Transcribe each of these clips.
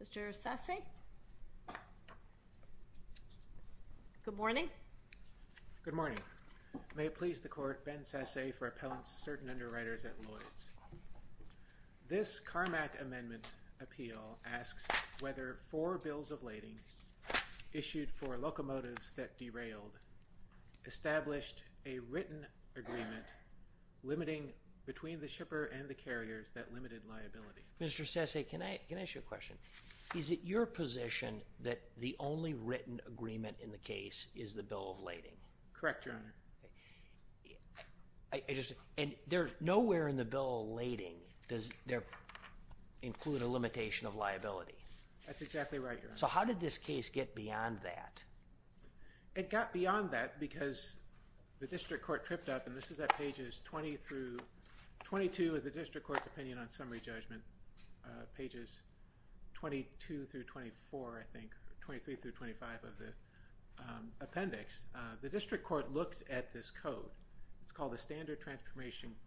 Mr. Sasse. Good morning. Good morning. May it please the Court, Ben Sasse for Appellants to Certain Underwriters at Lloyd's. This Carmack Amendment Appeal asks whether four bills of lading issued for locomotives that derailed established a written agreement limiting between the shipper and the carriers that limited liability. Mr. Sasse, can I can I ask you a question? Is it your position that the only written agreement in the case is the Bill of Lading? Correct, Your Honor. And nowhere in the Bill of Lading does there include a limitation of liability? That's exactly right, Your Honor. So how did this case get beyond that? It got beyond that. In page 22 of the District Court's Opinion on Summary Judgment, pages 22 through 24, I think, 23 through 25 of the appendix, the District Court looked at this code. It's called the Standard Transportation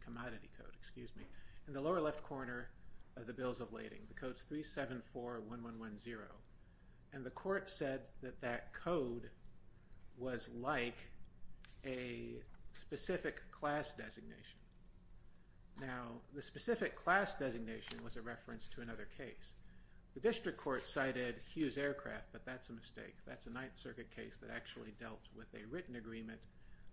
Commodity Code, excuse me, in the lower left corner of the Bills of Lading. The code is 3741110. And the Court said that that code was like a specific class designation. Now, the specific class designation was a reference to another case. The District Court cited Hughes Aircraft, but that's a mistake. That's a Ninth Circuit case that actually dealt with a written agreement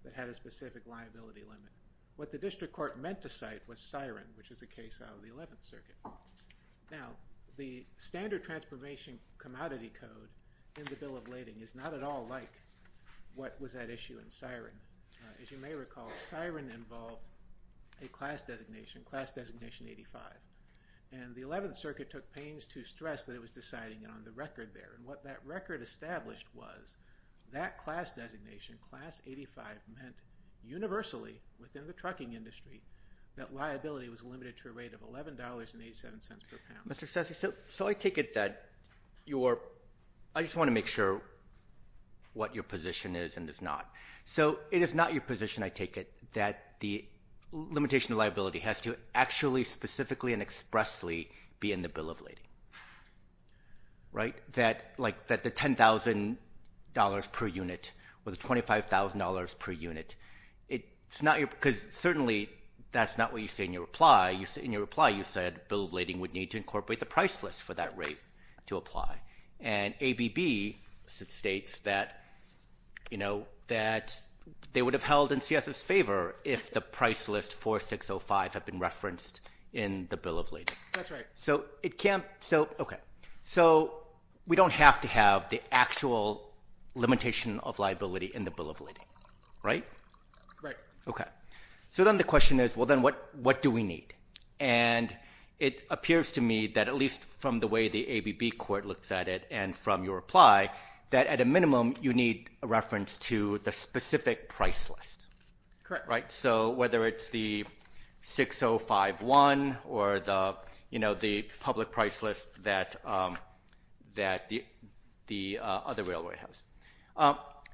that had a specific liability limit. What the District Court meant to cite was Siren, which is a case out of the Eleventh Circuit. Now, the Standard Transformation Commodity Code in the Bill of Lading is not at all like what was at issue in Siren. As you may recall, Siren involved a class designation, Class Designation 85. And the Eleventh Circuit took pains to stress that it was deciding on the record there. And what that record established was that class designation, Class 85, meant universally within the trucking industry that liability was limited to a rate of $11.87 per pound. Mr. Sasse, so I take it that you are... I just want to make sure what your position is and is not. So, it is not your position, I take it, that the limitation of liability has to actually, specifically, and expressly be in the Bill of Lading, right? That like that the $10,000 per unit or the $25,000 per unit, it's not your... Because certainly, that's not what you say in your reply. In your reply, you said Bill of Lading would need to incorporate the price list for that rate to apply. And ABB states that, you know, that they would have held in CS's favor if the price list 4605 had been referenced in the Bill of Lading. That's right. So, it can't... So, okay. So, we don't have to have the actual limitation of liability in the Bill of Lading, right? Right. Okay. So, then the question is, well, then what do we need? And it appears to me that at least from the way the ABB court looks at it and from your reply, that at a minimum, you need a reference to the specific price list. Correct. Right? So, whether it's the 6051 or the, you know, the public price list that the other railway has.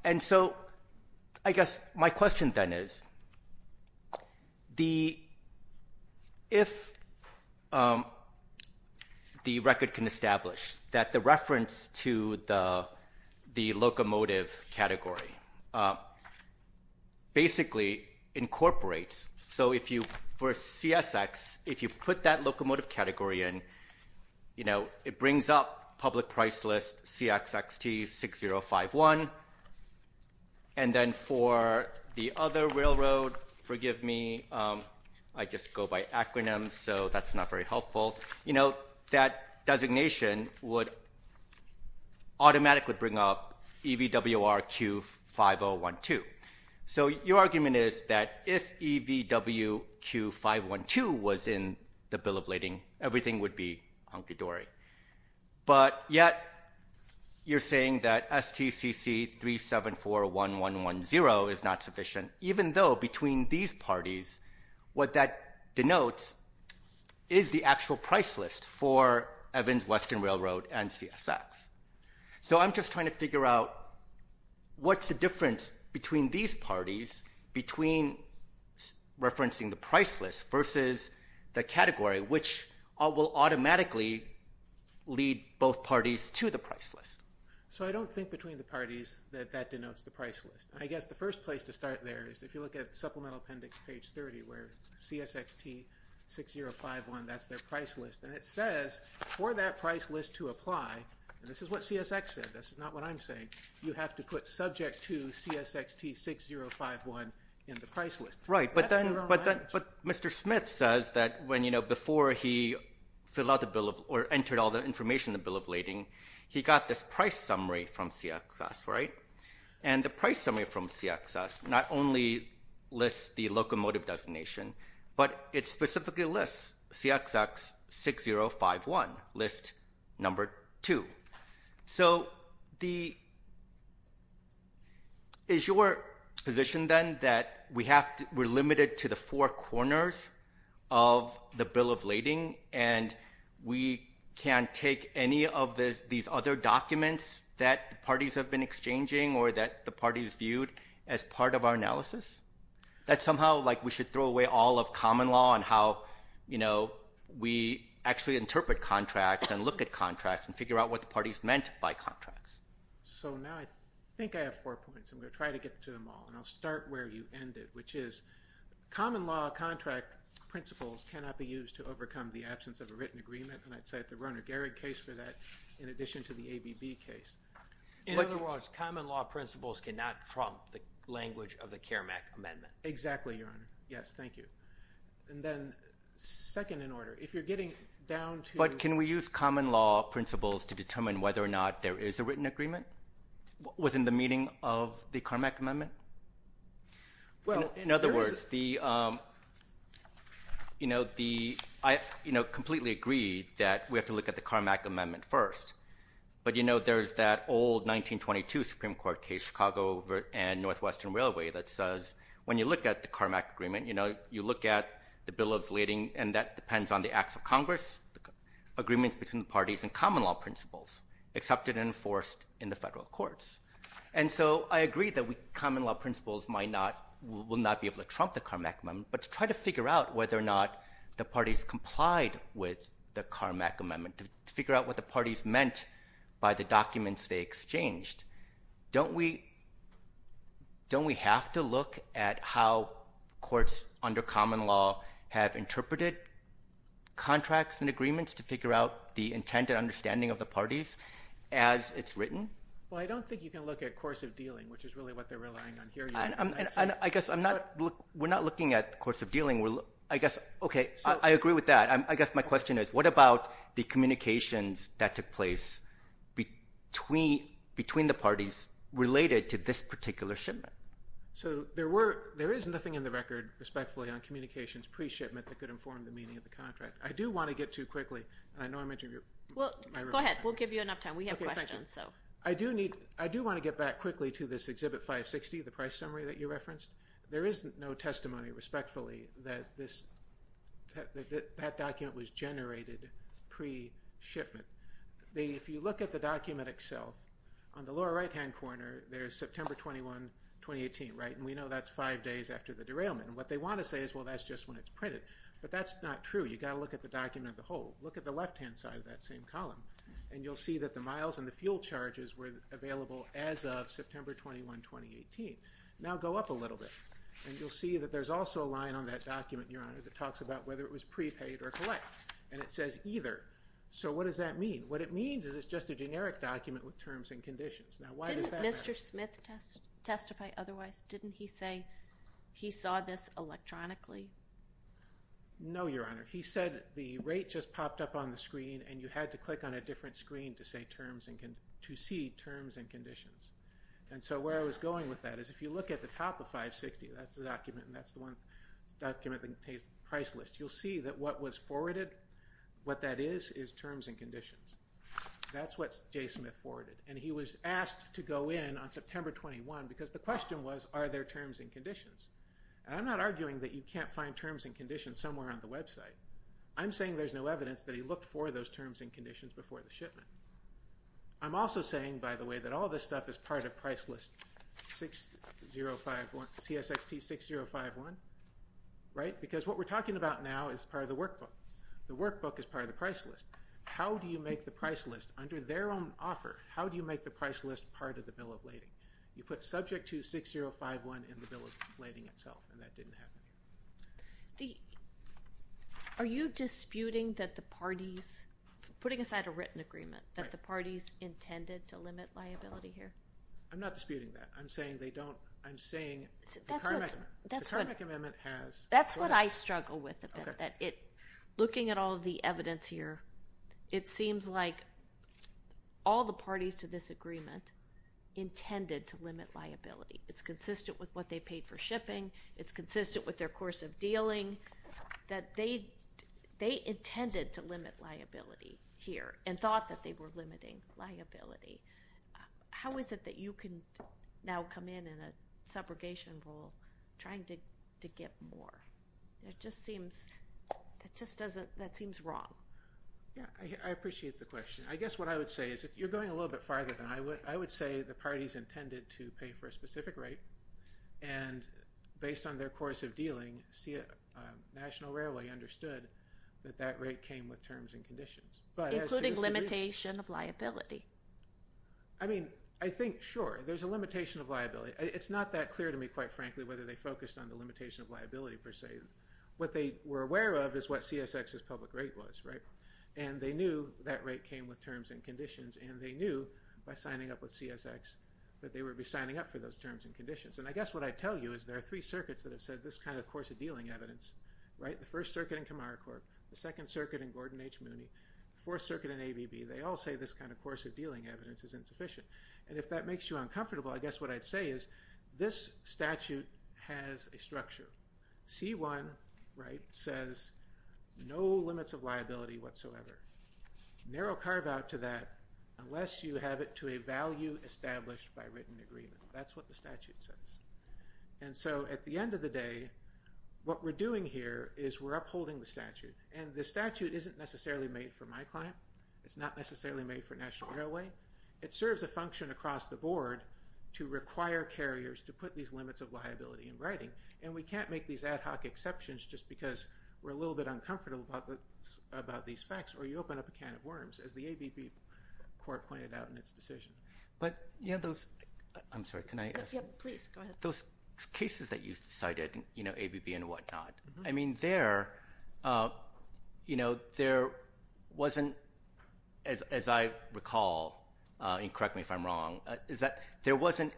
And so, I guess my question then is, if the record can establish that the reference to the locomotive category basically incorporates... So, if you... For CSX, if you put that locomotive category in, you know, it brings up public price list CXXT6051. And then for the other railroad, forgive me, I just go by acronyms, so that's not very helpful. You know, that designation would automatically bring up EVWRQ5012. So, your argument is that if EVWRQ512 was in the Bill of Lading, everything would be hunky-dory. But yet, you're saying that STCC3741110 is not sufficient, even though between these parties, what that denotes is the actual price list for Evans Western Railroad and CSX. So, I'm just trying to figure out what's the difference between these parties, between referencing the price list versus the category, which will automatically lead both parties to the price list. So, I don't think between the parties that that denotes the price list. I guess the first place to start there is if you look at Supplemental Appendix page 30, where CSXT6051, that's their price list. And it says, for that price list to apply, and this is what CSX said, this is not what I'm saying, you have to put subject to CSXT6051 in the price list. Right. But then, Mr. Smith says that when, you know, before he entered all the information in the Bill of Lading, he got this price summary from CXS, right? And the price summary from CXS not only lists the locomotive designation, but it specifically lists CSX6051, list number two. So, the, is your position then that we have to, we're limited to the four corners of the Bill of Lading and we can't take any of these other documents that parties have been exchanging or that the parties viewed as part of our contract. You know, we actually interpret contracts and look at contracts and figure out what the parties meant by contracts. So, now I think I have four points. I'm going to try to get to them all. And I'll start where you ended, which is, common law contract principles cannot be used to overcome the absence of a written agreement. And I'd cite the Rerner-Gerig case for that, in addition to the ABB case. In other words, common law principles cannot trump the language of the CARMAC amendment. Exactly, Your Honor. Yes, thank you. And then, second in order, if you're getting down to- But can we use common law principles to determine whether or not there is a written agreement within the meaning of the CARMAC amendment? Well, in other words, the, you know, the, I, you know, completely agreed that we have to look at the CARMAC amendment first. But, you know, there's that old 1922 Supreme Court case, Chicago and Northwestern Railway that says, when you look at the CARMAC agreement, you know, you look at the bill of leading, and that depends on the acts of Congress, agreements between the parties and common law principles accepted and enforced in the federal courts. And so, I agree that we, common law principles might not, will not be able to trump the CARMAC amendment. But to try to figure out whether or not the parties complied with the CARMAC amendment, to figure out what the parties meant by the common law have interpreted contracts and agreements to figure out the intent and understanding of the parties as it's written. Well, I don't think you can look at course of dealing, which is really what they're relying on here. And I guess I'm not, we're not looking at course of dealing. I guess, okay, I agree with that. I guess my question is, what about the communications that took place between the parties related to this particular shipment? So, there were, there is nothing in the record, respectfully, on communications pre-shipment that could inform the meaning of the contract. I do want to get to quickly, and I know I'm interrupting your... Well, go ahead. We'll give you enough time. We have questions, so. Okay, thank you. I do need, I do want to get back quickly to this Exhibit 560, the price summary that you referenced. There is no testimony, respectfully, that this, that document was generated pre-shipment. If you look at the document Excel, on the lower right-hand corner, there's September 21, 2018, right? And we know that's five days after the derailment. And what they want to say is, well, that's just when it's printed. But that's not true. You've got to look at the document as a whole. Look at the left-hand side of that same column, and you'll see that the miles and the fuel charges were available as of September 21, 2018. Now, go up a little bit, and you'll see that there's also a line on that document, Your Honor, that talks about whether it was prepaid or collect. And it says either. So, what does that mean? What it means is it's just a generic document with terms and conditions. Now, why does that matter? Did J. Smith testify otherwise? Didn't he say he saw this electronically? No, Your Honor. He said the rate just popped up on the screen, and you had to click on a different screen to see terms and conditions. And so, where I was going with that is, if you look at the top of 560, that's the document, and that's the one document that contains the price list. You'll see that what was forwarded, what that is, is terms and conditions. That's what J. Smith forwarded, and he was asked to go in on September 21, because the question was, are there terms and conditions? And I'm not arguing that you can't find terms and conditions somewhere on the website. I'm saying there's no evidence that he looked for those terms and conditions before the shipment. I'm also saying, by the way, that all this stuff is part of price list CSXT 6051, right? Because what we're talking about now is part of the workbook. The workbook is part of the price list. How do you make the price list under their own offer, how do you make the price list part of the bill of lading? You put subject to 6051 in the bill of lading itself, and that didn't happen. Are you disputing that the parties, putting aside a written agreement, that the parties intended to limit liability here? I'm not disputing that. I'm saying they don't, I'm saying the current amendment. That's what I struggle with a bit. Looking at all the evidence here, it seems like all the parties to this agreement intended to limit liability. It's consistent with what they paid for shipping, it's consistent with their course of dealing, that they intended to limit liability here and thought that they were limiting liability. How is it that you can now come in in a subrogation role trying to get more? It just seems, that seems wrong. Yeah, I appreciate the question. I guess what I would say is that you're going a little bit farther than I would. I would say the parties intended to pay for a specific rate, and based on their course of dealing, National Railway understood that that rate came with terms and conditions. Including limitation of liability. I mean, I think, sure, there's a limitation of liability. It's not that clear to me, quite frankly, whether they focused on the limitation of liability, per se. What they were aware of is what CSX's public rate was. They knew that rate came with terms and conditions, and they knew, by signing up with CSX, that they would be signing up for those terms and conditions. I guess what I'd tell you is there are three circuits that have said this kind of course of dealing evidence. The First Circuit in Kamaracourt, the Second Circuit in Gordon H. Mooney, Fourth Circuit in ABB. They all say this kind of course of dealing evidence is insufficient. If that makes you uncomfortable, I guess what I'd say is this statute has a structure. C1 says no limits of liability whatsoever. Narrow carve out to that unless you have it to a value established by written agreement. That's what the statute says. At the end of the day, what we're doing here is we're upholding the statute. The statute isn't necessarily made for my client. It's not necessarily made for National Railway. It serves a function across the board to require carriers to put these limits of liability in writing. We can't make these ad hoc exceptions just because we're a little bit uncomfortable about these facts, or you open up a can of worms, as the ABB court pointed out in its decision. Those cases that you cited, ABB and whatnot, I mean, there wasn't a lot of discussion about as I recall, and correct me if I'm wrong, is that there wasn't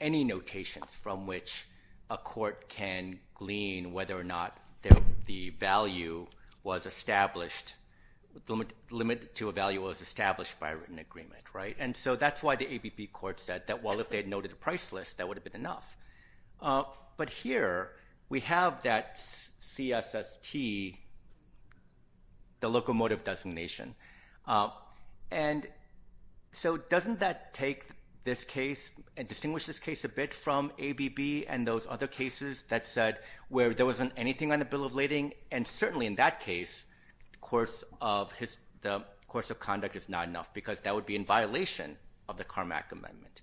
any notations from which a court can glean whether or not the value was established, the limit to a value was established by written agreement. That's why the ABB court said that, well, if they'd noted a price list, that would have been enough. Here, we have that CSST, the locomotive designation. So, doesn't that take this case and distinguish this case a bit from ABB and those other cases that said where there wasn't anything on the bill of lading, and certainly in that case, the course of conduct is not enough because that would be in violation of the Carmack Amendment.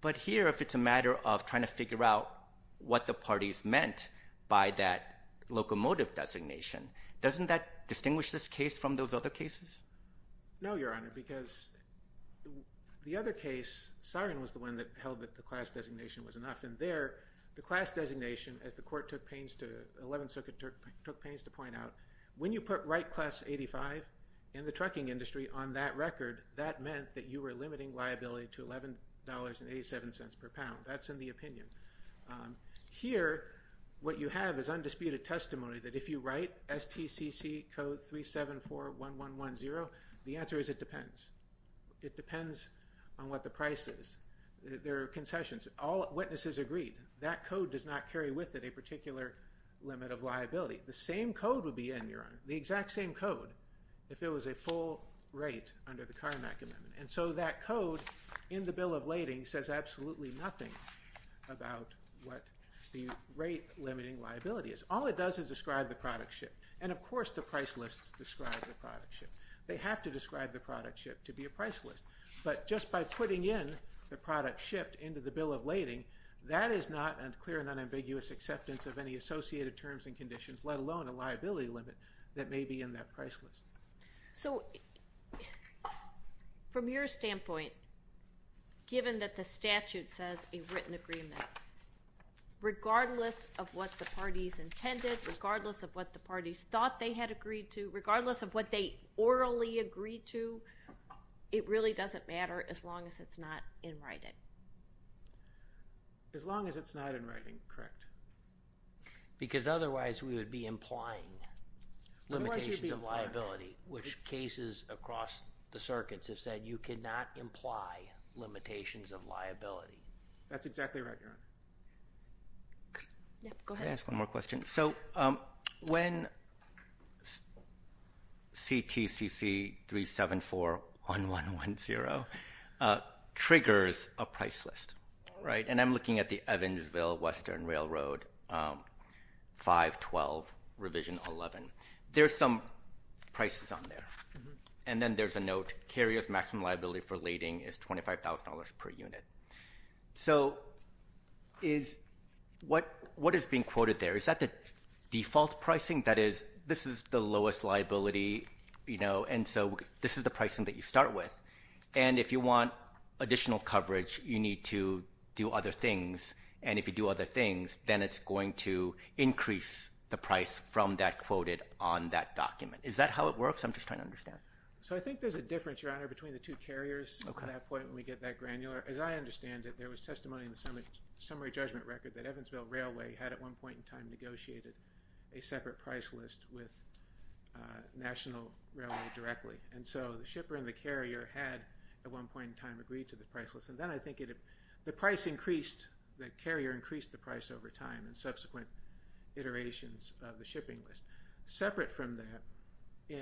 But here, if it's a matter of trying to figure out what the parties meant by that locomotive designation, doesn't that distinguish this from the other cases? No, Your Honor, because the other case, Sarin was the one that held that the class designation was enough, and there, the class designation, as the 11th Circuit took pains to point out, when you put right class 85 in the trucking industry on that record, that meant that you were limiting liability to $11.87 per pound. That's in the opinion. Here, what you have is undisputed testimony that if you write STCC code 3741110, the answer is it depends. It depends on what the price is. There are concessions. All witnesses agreed. That code does not carry with it a particular limit of liability. The same code would be in, Your Honor, the exact same code if it was a full rate under the Carmack Amendment. And so, that code in the bill of lading says absolutely nothing about what the rate limiting liability is. All it does is describe the product ship. And of course, the price lists describe the product ship. They have to describe the product ship to be a price list. But just by putting in the product ship into the bill of lading, that is not a clear and unambiguous acceptance of any associated terms and conditions, let alone a liability limit that may be in that price list. So, from your standpoint, given that the statute says a written agreement, regardless of what the parties intended, regardless of what the parties thought they had agreed to, regardless of what they orally agreed to, it really doesn't matter as long as it's not in writing. As long as it's not in writing, correct. Because otherwise, we would be implying limitations of liability, which cases across the circuits have said you cannot imply limitations of liability. That's exactly right, Your Honor. Go ahead. Can I ask one more question? So, when CTCC 374-1110 triggers a price list, right, and I'm looking at the Evansville Western Railroad 512 Revision 11, there's some prices on there. And then there's a note, carrier's maximum liability for lading is $25,000 per unit. What is being quoted there, is that the default pricing? That is, this is the lowest liability, you know, and so this is the pricing that you start with. And if you want additional coverage, you need to do other things. And if you do other things, then it's going to increase the price from that quoted on that document. Is that how it works? I'm just trying to understand. So I think there's a difference, Your Honor, between the two carriers at that point when we get that granular. As I understand it, there was testimony in the summary judgment record that Evansville Railway had at one point in time negotiated a separate price list with National Railway directly. And so the shipper and the carrier had at one point in time agreed to the price list. And then I think the price increased, the carrier increased the price over time in subsequent iterations of the shipping list. Separate from that,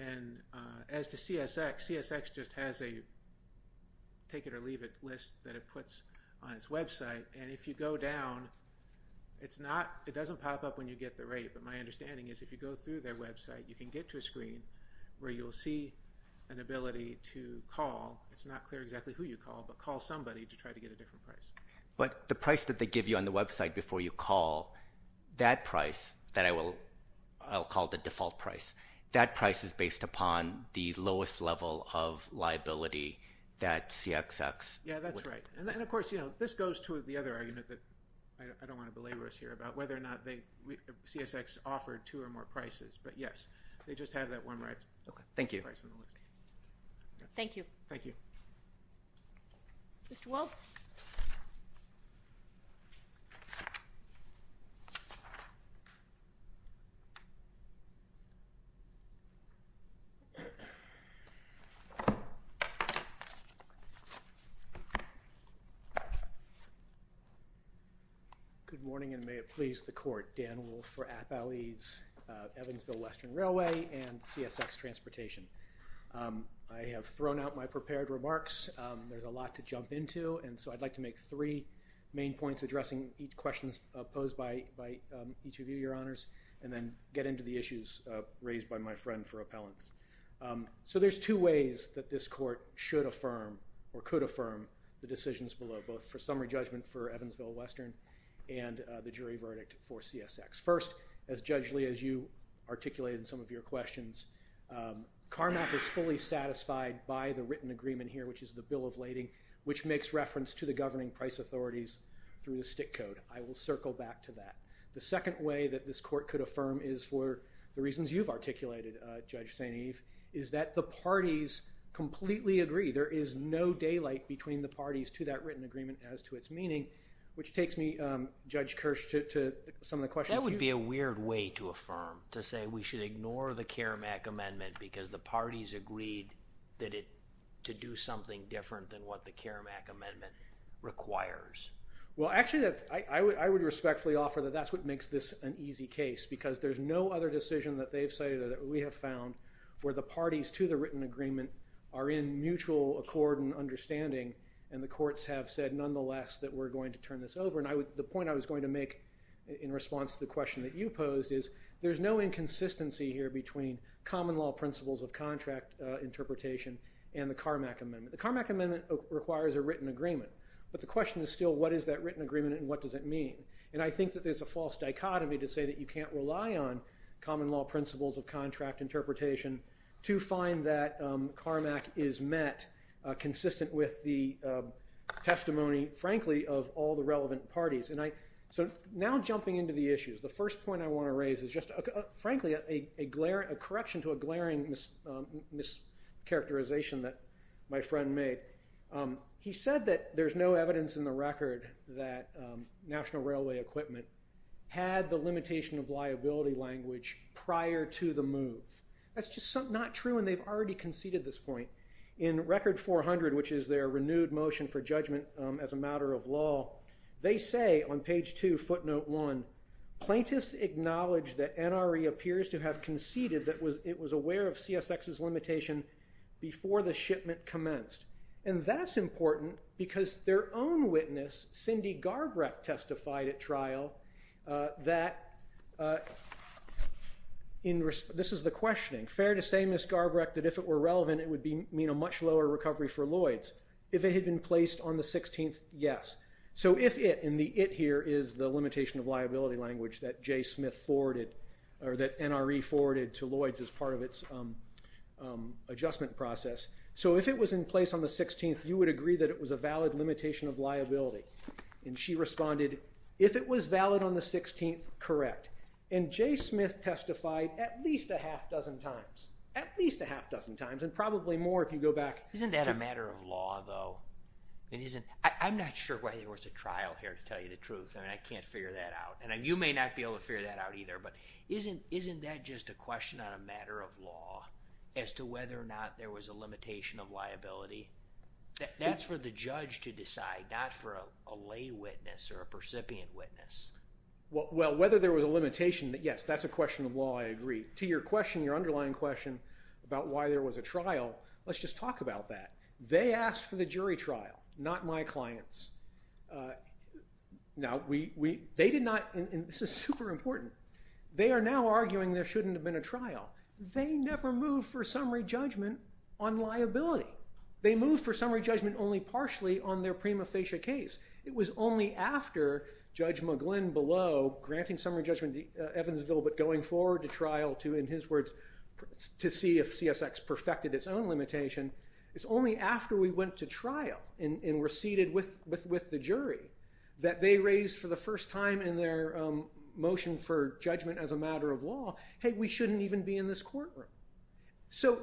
as to CSX, CSX just has a take it or leave it list that it puts on its website. And if you go down, it's not, it doesn't pop up when you get the rate, but my understanding is if you go through their website, you can get to a screen where you'll see an ability to call, it's not clear exactly who you call, but call somebody to try to get a different price. But the price that they give you on the website before you call, that price that I will, I'll call the default price, that price is based upon the lowest level of liability that CSX would. Yeah, that's right. And then of course, you know, this goes to the other argument that I don't want to belabor us here about whether or not they, CSX offered two or more prices, but yes, they just have that one right price on the list. Thank you. Thank you. Mr. Wolfe. Good morning and may it please the court. Dan Wolfe for Appalachian Evansville Western Interpretation. I have thrown out my prepared remarks. There's a lot to jump into. And so I'd like to make three main points addressing each questions posed by each of you, your honors, and then get into the issues raised by my friend for appellants. So there's two ways that this court should affirm or could affirm the decisions below, both for summary judgment for Evansville Western and the jury verdict for CSX. First, as judge Lee, as you articulated in some of your questions, CARMAP is fully satisfied by the written agreement here, which is the bill of lading, which makes reference to the governing price authorities through the stick code. I will circle back to that. The second way that this court could affirm is for the reasons you've articulated, Judge St. Eve, is that the parties completely agree. There is no daylight between the parties to that written agreement as to its meaning, which takes me, Judge Kirsch, to some of the questions. That would be a weird way to affirm, to say we should ignore the CARMAP amendment because the parties agreed to do something different than what the CARMAP amendment requires. Well, actually, I would respectfully offer that that's what makes this an easy case, because there's no other decision that they've cited or that we have found where the parties to the written agreement are in mutual accord and understanding, and the courts have said, nonetheless, that we're going to turn this over. And the point I was going to make in response to the question that you posed is there's no inconsistency here between common law principles of contract interpretation and the CARMAP amendment. The CARMAP amendment requires a written agreement, but the question is still what is that written agreement and what does it mean? And I think that there's a false dichotomy to say that you can't rely on common law principles of contract interpretation to find that CARMAP is met consistent with the testimony, frankly, of all the relevant parties. Now jumping into the issues, the first point I want to raise is just, frankly, a correction to a glaring mischaracterization that my friend made. He said that there's no evidence in the record that National Railway Equipment had the limitation of liability language prior to the move. That's just not true, and they've already conceded this point. In Record 400, which is their renewed motion for judgment as a matter of law, they say on page 2, footnote 1, plaintiffs acknowledge that NRA appears to have conceded that it was aware of CSX's limitation before the shipment commenced. And that's important because their own witness, Cindy Garbrecht, testified at trial that this is the questioning. Fair to say, Ms. Garbrecht, that if it were relevant, it would mean a much lower recovery for Lloyds. If it had been placed on the 16th, yes. So if it, and the it here is the limitation of liability language that J. Smith forwarded, or that NRA forwarded to Lloyds as part of its adjustment process, so if it was in place on the 16th, you would agree that it was a valid limitation of liability. And she responded, if it was valid on the 16th, correct. And J. Smith testified at least a half dozen times. At least a half dozen times, and probably more if you go back. Isn't that a matter of law, though? I'm not sure why there was a trial here, to tell you the truth. I mean, I can't figure that out. And you may not be able to figure that out either. But isn't that just a question on a matter of law as to whether or not there was a limitation of liability? That's for the judge to decide, not for a lay witness or a percipient witness. Well, whether there was a limitation, yes, that's a question of law, I agree. To your question, your underlying question about why there was a trial, let's just talk about that. They asked for the jury trial, not my clients. Now, they did not, and this is super important, they are now arguing there shouldn't have been a trial. They never moved for summary judgment on liability. They moved for summary judgment only partially on their prima facie case. It was only after Judge McGlynn below granting summary judgment in Evansville but going forward to trial to, in his words, to see if CSX perfected its own limitation, it's only after we went to trial and were seated with the jury that they raised for the first time in their motion for judgment as a matter of law, hey, we shouldn't even be in this courtroom. So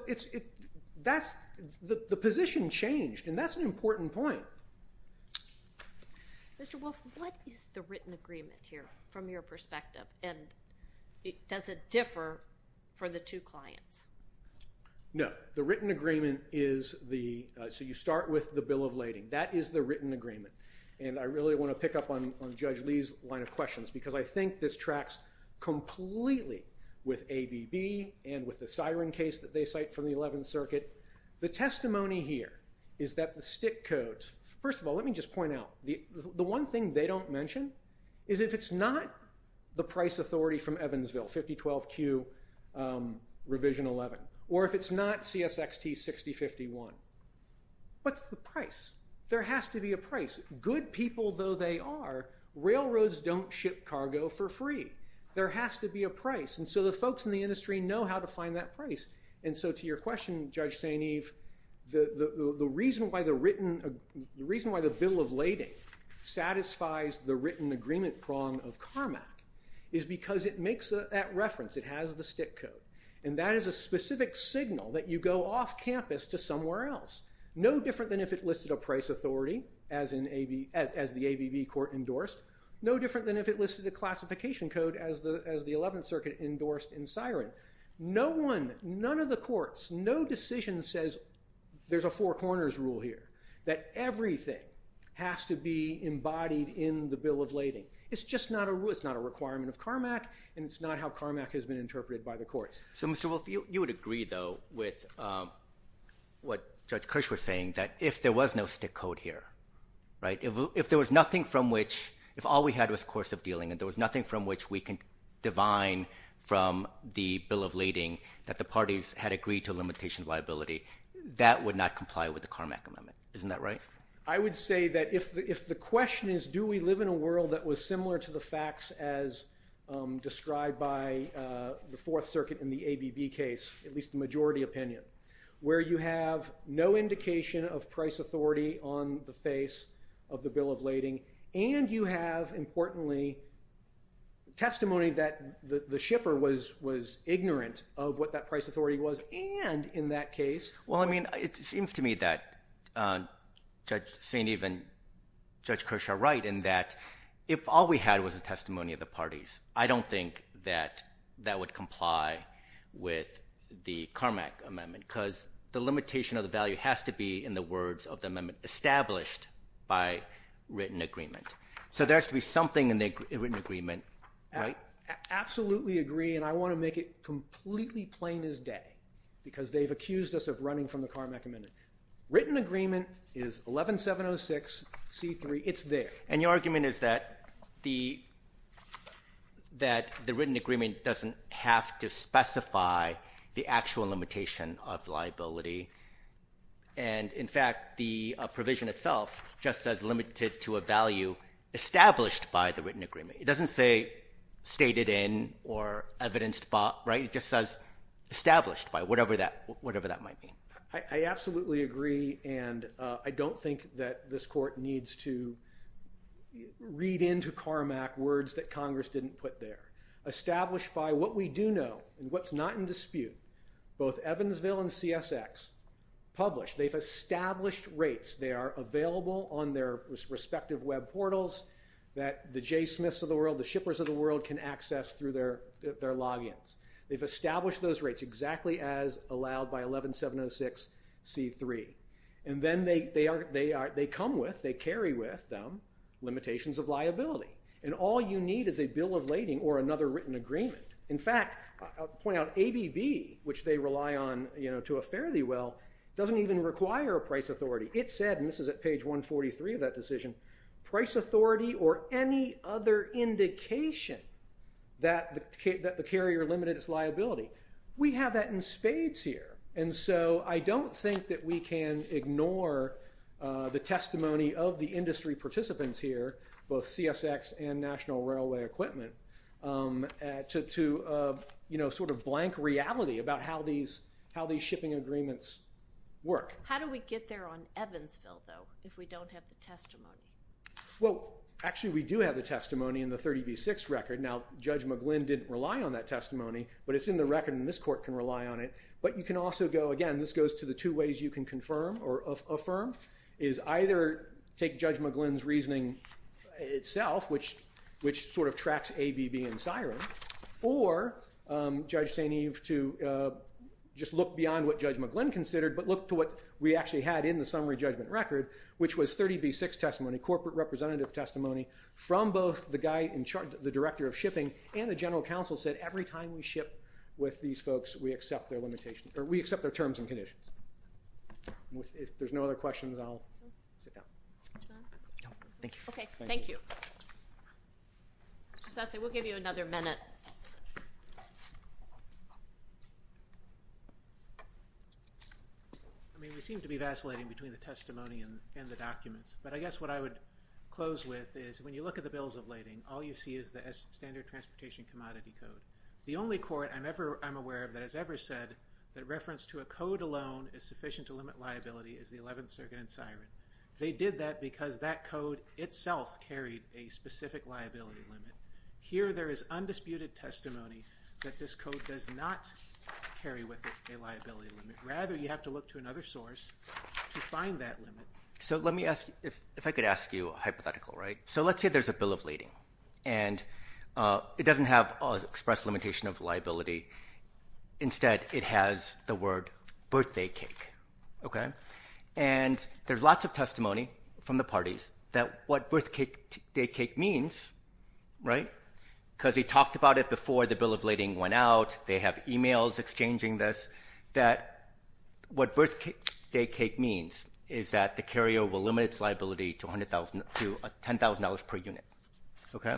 the position changed, and that's an important point. Mr. Wolfe, what is the written agreement here from your perspective, and does it differ for the two clients? No. The written agreement is the, so you start with the bill of lading. That is the written agreement, and I really want to pick up on Judge Lee's line of questions because I think this tracks completely with ABB and with the siren case that they cite from the 11th Circuit. The testimony here is that the stick codes, first of all, let me just point out, the one thing they don't mention is if it's not the price authority from Evansville, 5012Q, revision 11, or if it's not CSXT 6051, what's the price? There has to be a price. Good people though they are, railroads don't ship cargo for free. There has to be a price, and so the folks in the industry know how to find that price, and so to your question, Judge St. Eve, the reason why the bill of lading satisfies the written agreement prong of CARMAC is because it makes that reference. It has the stick code, and that is a specific signal that you go off campus to somewhere else, no different than if it listed a price authority as the ABB court endorsed, no different than if it none of the courts, no decision says there's a four corners rule here, that everything has to be embodied in the bill of lading. It's just not a requirement of CARMAC, and it's not how CARMAC has been interpreted by the courts. So Mr. Wolf, you would agree though with what Judge Kirsch was saying, that if there was no stick code here, if there was nothing from which, if all we had was course of dealing and there was nothing from which we could divine from the bill of lading that the parties had agreed to a limitation of liability, that would not comply with the CARMAC amendment. Isn't that right? I would say that if the question is do we live in a world that was similar to the facts as described by the Fourth Circuit in the ABB case, at least the majority opinion, where you have no indication of price authority on the face of the bill of lading, and you have, importantly, testimony that the shipper was ignorant of what that price authority was, and in that case— Well, I mean, it seems to me that Judge St. Eve and Judge Kirsch are right in that if all we had was the testimony of the parties, I don't think that that would comply with the CARMAC amendment, because the limitation of the value has to be, in the words of the So there has to be something in the written agreement, right? I absolutely agree, and I want to make it completely plain as day, because they've accused us of running from the CARMAC amendment. Written agreement is 11706C3. It's there. And your argument is that the written agreement doesn't have to specify the actual limitation of liability. And, in fact, the provision itself just says limited to a value established by the written agreement. It doesn't say stated in or evidenced by, right? It just says established by, whatever that might mean. I absolutely agree, and I don't think that this Court needs to read into CARMAC words that Congress didn't put there. Established by what we do know and what's not in dispute, both Evansville and CSX published. They've established rates. They are available on their respective web portals that the Jay Smiths of the world, the shippers of the world, can access through their logins. They've established those rates exactly as allowed by 11706C3. And then they come with, they carry with them, limitations of liability. And all you need is a bill of lading or another written agreement. In fact, I'll point out ABB, which they rely on to a fairly well, doesn't even require a price authority. It said, and this is at page 143 of that decision, price authority or any other indication that the carrier limited its liability. We have that in spades here. And so I don't think that we can ignore the testimony of the industry participants here, both CSX and National Railway Equipment, to, you know, sort of blank reality about how these shipping agreements work. How do we get there on Evansville, though, if we don't have the testimony? Well, actually, we do have the testimony in the 30B6 record. Now, Judge McGlynn didn't rely on that testimony. But it's in the record and this court can rely on it. But you can also go, again, this goes to the two ways you can confirm or affirm, is either take Judge McGlynn's reasoning itself, which sort of tracks ABB and SIREN, or Judge St. Eve to just look beyond what Judge McGlynn considered, but look to what we actually had in the summary judgment record, which was 30B6 testimony, corporate representative testimony, from both the guy in charge, the director of shipping, and the general counsel said, every time we ship with these folks, we accept their limitations, or we accept their terms and conditions. If there's no other questions, I'll sit down. Thank you. Okay. Thank you. Mr. Sasse, we'll give you another minute. I mean, we seem to be vacillating between the testimony and the documents. But I guess what I would close with is, when you look at the bills of lading, all you see is the Standard Transportation Commodity Code. The only court I'm aware of that has ever said that reference to a code alone is sufficient to limit liability is the 11th Circuit and SIREN. They did that because that code itself carried a specific liability limit. Here, there is undisputed testimony that this code does not carry with it a liability limit. Rather, you have to look to another source to find that limit. So let me ask you, if I could ask you a hypothetical, right? So let's say there's a bill of lading, and it doesn't have an express limitation of liability. Instead, it has the word, birthday cake. Okay? And there's lots of testimony from the parties that what birthday cake means, right, because he talked about it before the bill of lading went out, they have e-mails exchanging this, that what birthday cake means is that the carrier will limit its liability to $10,000 per unit. Okay?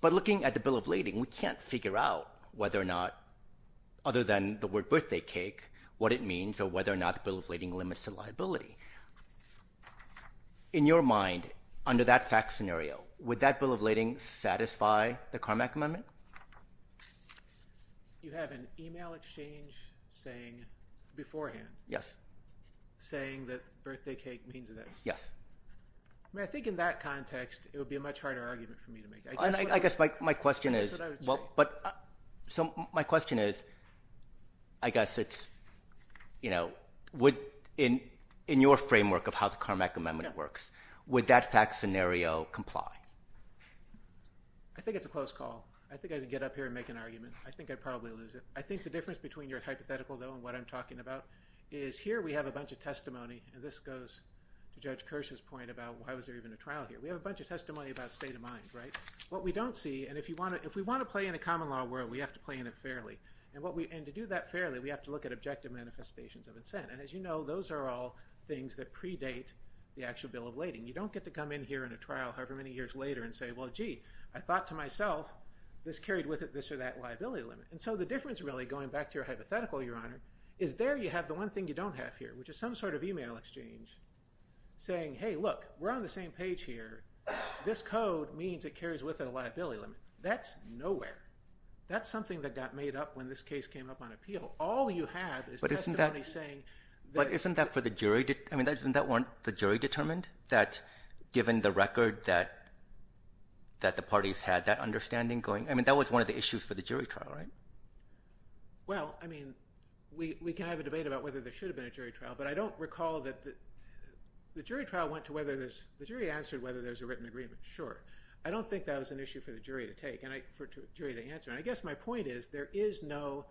But looking at the bill of lading, we can't figure out whether or not, other than the word birthday cake, what it means or whether or not the bill of lading limits the liability. In your mind, under that fact scenario, would that bill of lading satisfy the Carmack Amendment? You have an e-mail exchange saying beforehand. Yes. Saying that birthday cake means this. Yes. I mean, I think in that context, it would be a much harder argument for me to make. I guess my question is, well, but my question is, I guess it's, you know, in your framework of how the Carmack Amendment works, would that fact scenario comply? I think it's a close call. I think I could get up here and make an argument. I think I'd probably lose it. I think the difference between your hypothetical, though, and what I'm talking about is, here we have a bunch of testimony, and this goes to Judge Kirsch's point about why was there even a trial here. We have a bunch of testimony about state of mind, right? What we don't see, and if we want to play in a common law world, we have to play in it fairly. And to do that fairly, we have to look at objective manifestations of incent. And as you know, those are all things that predate the actual bill of lading. You don't get to come in here in a trial however many years later and say, well, gee, I thought to myself this carried with it this or that liability limit. And so the difference, really, going back to your hypothetical, Your Honor, is there you have the one thing you don't have here, which is some sort of e-mail exchange saying, hey, look, we're on the same page here. This code means it carries with it a liability limit. That's nowhere. That's something that got made up when this case came up on appeal. All you have is testimony saying that- given the record that the parties had, that understanding going- I mean, that was one of the issues for the jury trial, right? Well, I mean, we can have a debate about whether there should have been a jury trial, but I don't recall that the jury trial went to whether there's- the jury answered whether there's a written agreement. Sure. I don't think that was an issue for the jury to take and for the jury to answer. And I guess my point is there is no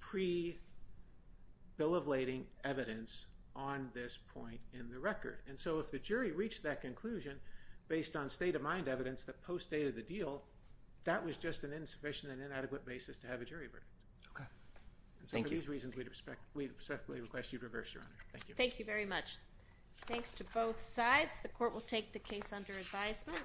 pre-bill of lading evidence on this point in the record. And so if the jury reached that conclusion based on state-of-mind evidence that post-dated the deal, that was just an insufficient and inadequate basis to have a jury verdict. Okay. Thank you. And so for these reasons, we respectfully request you reverse, Your Honor. Thank you. Thank you very much. Thanks to both sides. The Court will take the case under advisement.